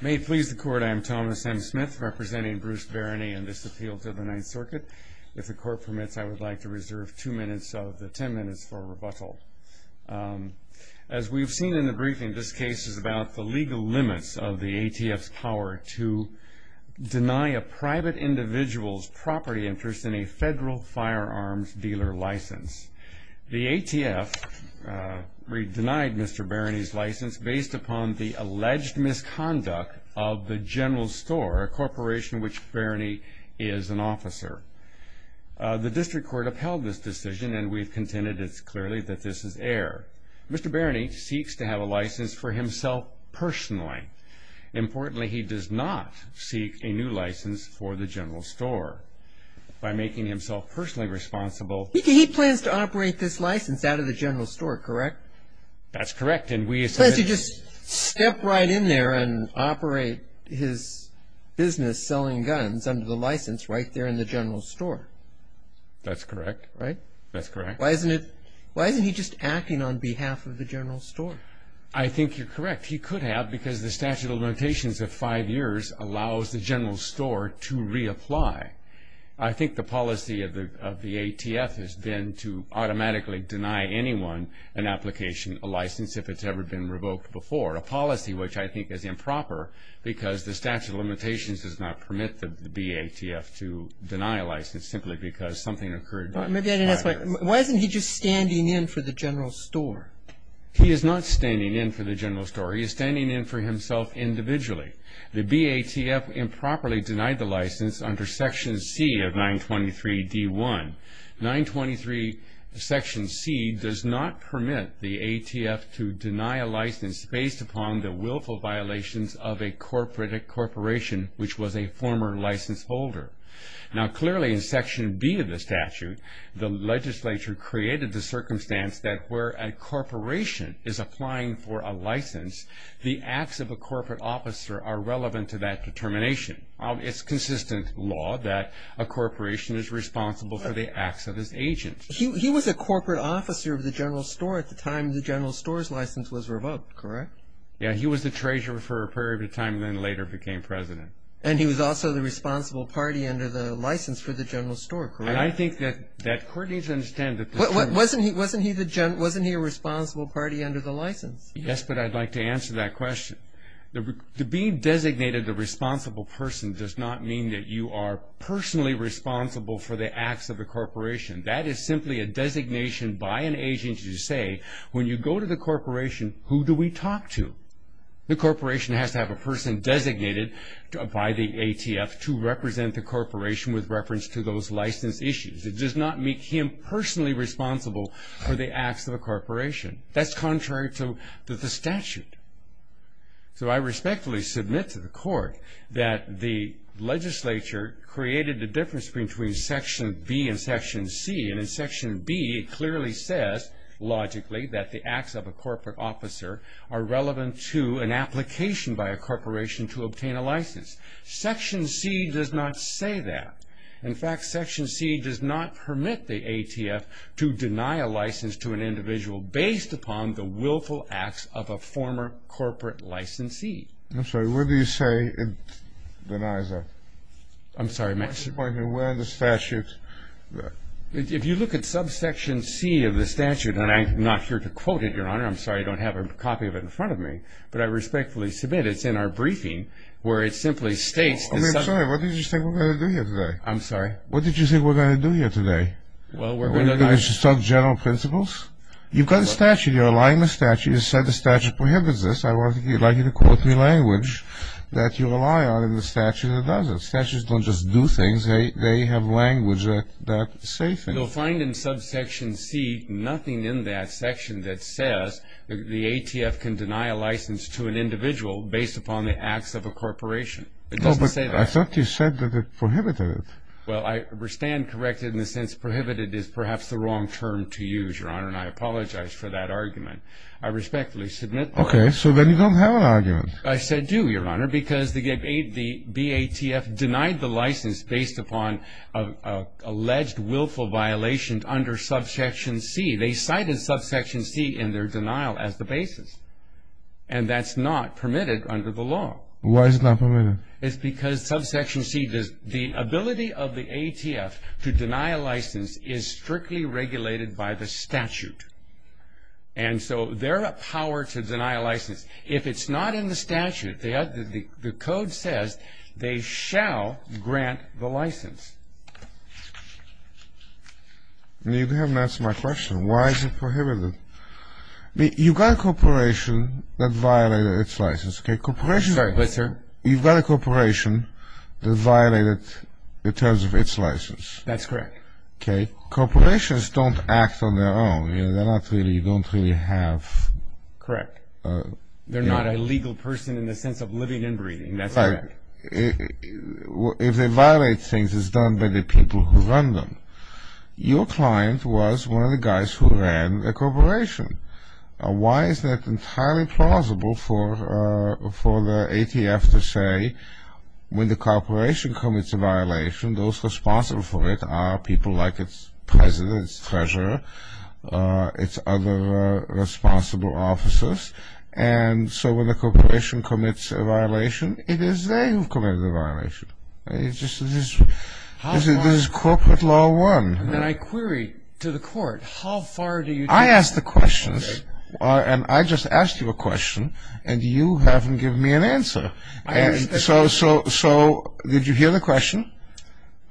May it please the Court, I am Thomas M. Smith, representing Bruce Barany in this appeal to the Ninth Circuit. If the Court permits, I would like to reserve two minutes of the ten minutes for rebuttal. As we've seen in the briefing, this case is about the legal limits of the ATF's power to deny a private individual's property interest in a federal firearms dealer license. The ATF denied Mr. Barany's license based upon the alleged misconduct of the General Store, a corporation which Barany is an officer. The District Court upheld this decision, and we've contended it's clearly that this is error. Mr. Barany seeks to have a license for himself personally. Importantly, he does not seek a new license for the General Store. By making himself personally responsible... He plans to operate this license out of the General Store, correct? That's correct. He plans to just step right in there and operate his business selling guns under the license right there in the General Store. That's correct. Right? That's correct. Why isn't he just acting on behalf of the General Store? I think you're correct. He could have because the statute of limitations of five years allows the General Store to reapply. I think the policy of the ATF has been to automatically deny anyone an application, a license if it's ever been revoked before, a policy which I think is improper because the statute of limitations does not permit the BATF to deny a license simply because something occurred. Why isn't he just standing in for the General Store? He is not standing in for the General Store. He is standing in for himself individually. The BATF improperly denied the license under Section C of 923D1. 923 Section C does not permit the ATF to deny a license based upon the willful violations of a corporation which was a former license holder. Now clearly in Section B of the statute, the legislature created the circumstance that where a corporation is applying for a license, the acts of a corporate officer are relevant to that determination. It's consistent law that a corporation is responsible for the acts of its agents. He was a corporate officer of the General Store at the time the General Store's license was revoked, correct? Yeah, he was the treasurer for a period of time and then later became president. And he was also the responsible party under the license for the General Store, correct? And I think that court needs to understand that the term was used. Wasn't he a responsible party under the license? Yes, but I'd like to answer that question. To be designated a responsible person does not mean that you are personally responsible for the acts of a corporation. That is simply a designation by an agent to say when you go to the corporation, who do we talk to? The corporation has to have a person designated by the ATF to represent the corporation with reference to those license issues. It does not make him personally responsible for the acts of a corporation. That's contrary to the statute. So I respectfully submit to the court that the legislature created the difference between Section B and Section C. And in Section B, it clearly says logically that the acts of a corporate officer are relevant to an application by a corporation to obtain a license. Section C does not say that. In fact, Section C does not permit the ATF to deny a license to an individual based upon the willful acts of a former corporate licensee. I'm sorry. What do you say it denies that? I'm sorry. If you look at subsection C of the statute, and I'm not here to quote it, Your Honor, I'm sorry, I don't have a copy of it in front of me, but I respectfully submit it's in our briefing where it simply states... I'm sorry. What did you say we're going to do here today? I'm sorry. What did you say we're going to do here today? Well, we're going to... Subgeneral principles? You've got a statute. You're relying on a statute. You said the statute prohibits this. I would like you to quote me language that you rely on in the statute that does it. Statutes don't just do things. They have language that say things. You'll find in subsection C nothing in that section that says the ATF can deny a license to an individual based upon the acts of a corporation. It doesn't say that. No, but I thought you said that it prohibited it. Well, I stand corrected in the sense prohibited is perhaps the wrong term to use, Your Honor, and I apologize for that argument. I respectfully submit... Okay. So then you don't have an argument. I said do, Your Honor, because the BATF denied the license based upon alleged willful violations under subsection C. They cited subsection C in their denial as the basis, and that's not permitted under the law. Why is it not permitted? It's because subsection C does... The ability of the ATF to deny a license is strictly regulated by the statute, and so they're a power to deny a license. If it's not in the statute, the code says they shall grant the license. You haven't answered my question. Why is it prohibited? You've got a corporation that violated its license. Sorry, what, sir? You've got a corporation that violated in terms of its license. That's correct. Okay. Corporations don't act on their own. You don't really have... Correct. They're not a legal person in the sense of living and breathing. That's correct. If they violate things, it's done by the people who run them. Your client was one of the guys who ran a corporation. Why is that entirely plausible for the ATF to say when the corporation commits a violation, those responsible for it are people like its president, its treasurer, its other responsible officers, and so when the corporation commits a violation, it is they who committed the violation. This is corporate law one. And then I query to the court, how far do you... I ask the questions, and I just asked you a question, and you haven't given me an answer. So did you hear the question?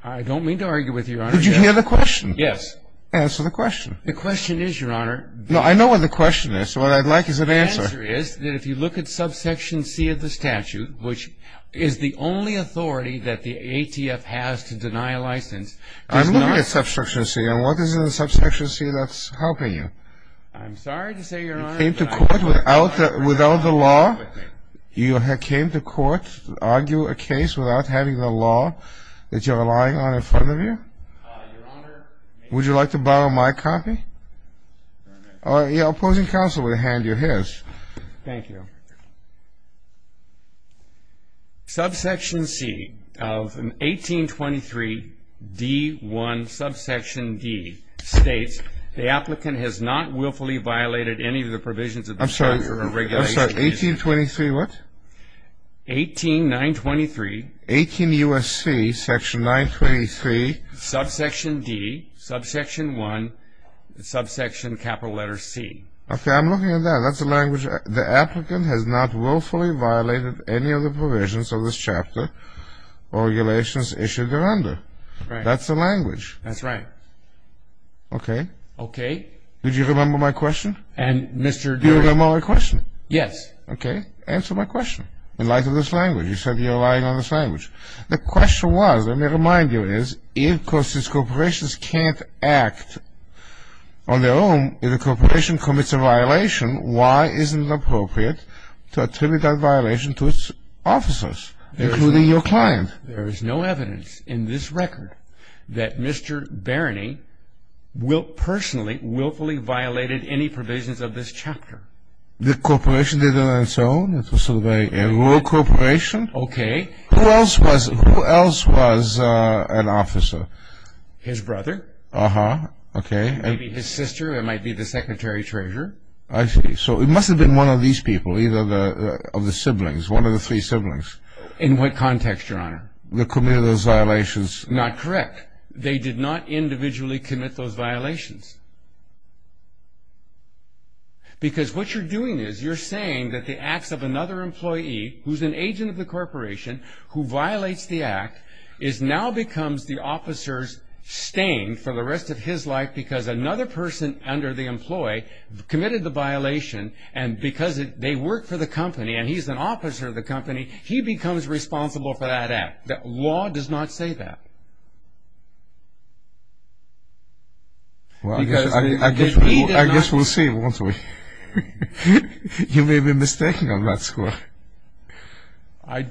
I don't mean to argue with you, Your Honor. Did you hear the question? Yes. Answer the question. The question is, Your Honor... No, I know what the question is. What I'd like is an answer. The answer is that if you look at subsection C of the statute, which is the only authority that the ATF has to deny a license... I'm looking at subsection C, and what is in the subsection C that's helping you? I'm sorry to say, Your Honor... You came to court without the law? You came to court to argue a case without having the law that you're relying on in front of you? Your Honor... Would you like to borrow my copy? Your opposing counsel will hand you his. Thank you. Subsection C of 1823 D1, subsection D states, the applicant has not willfully violated any of the provisions of this chapter of regulations. I'm sorry. 1823 what? 18923. 18 U.S.C., section 923. Subsection D, subsection 1, subsection capital letter C. Okay. I'm looking at that. That's the language. The applicant has not willfully violated any of the provisions of this chapter or regulations issued thereunder. Right. That's the language. That's right. Okay. Okay. Did you remember my question? And, Mr. Durden... Do you remember my question? Yes. Okay. Answer my question in light of this language. You said you're relying on this language. The question was, let me remind you, is if, because these corporations can't act on their own, if the corporation commits a violation, why isn't it appropriate to attribute that violation to its officers, including your client? There is no evidence in this record that Mr. Barany personally willfully violated any provisions of this chapter. The corporation did it on its own? It was sort of a rural corporation? Okay. Who else was an officer? His brother. Uh-huh. Okay. Maybe his sister. It might be the secretary treasurer. I see. So it must have been one of these people, either of the siblings, one of the three siblings. In what context, Your Honor? That committed those violations. Not correct. They did not individually commit those violations. Because what you're doing is you're saying that the acts of another employee, who's an agent of the corporation, who violates the act, is now becomes the officer's stain for the rest of his life, because another person under the employee committed the violation, and because they work for the company, and he's an officer of the company, he becomes responsible for that act. Law does not say that. I guess we'll see, won't we? You may be mistaken on that score. I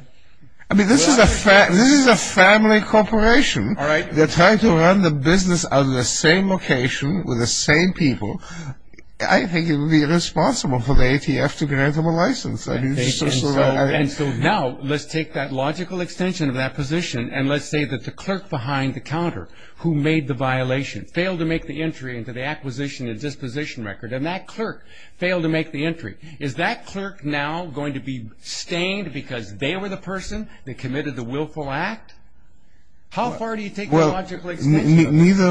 mean, this is a family corporation. All right. They're trying to run the business out of the same location with the same people. I think it would be irresponsible for the ATF to grant them a license. And so now let's take that logical extension of that position, and let's say that the clerk behind the counter who made the violation failed to make the entry into the acquisition and disposition record, and that clerk failed to make the entry. Is that clerk now going to be stained because they were the person that committed the willful act? Neither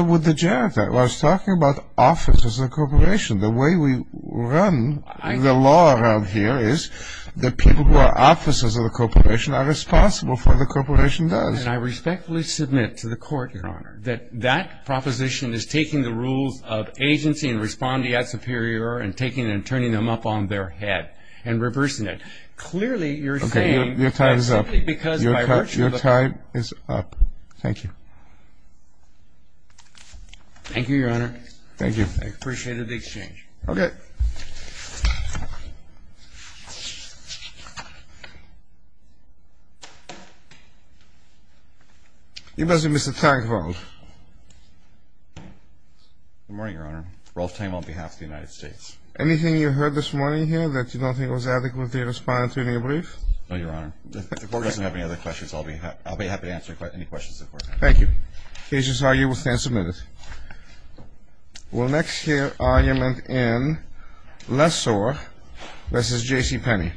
would the janitor. Well, I was talking about officers of the corporation. The way we run the law around here is the people who are officers of the corporation are responsible for what the corporation does. And I respectfully submit to the Court, Your Honor, that that proposition is taking the rules of agency and responding at superior and taking and turning them up on their head and reversing it. Clearly, you're saying that simply because by virtue of the court. Your time is up. Thank you. Thank you, Your Honor. Thank you. I appreciate the exchange. Okay. You must be Mr. Tankvold. Good morning, Your Honor. Rolf Tank on behalf of the United States. Anything you heard this morning here that you don't think was adequately responding to your brief? No, Your Honor. If the Court doesn't have any other questions, I'll be happy to answer any questions. Thank you. Cases argued. We'll stand a minute. We'll next hear argument in Lessor v. J.C. Penney.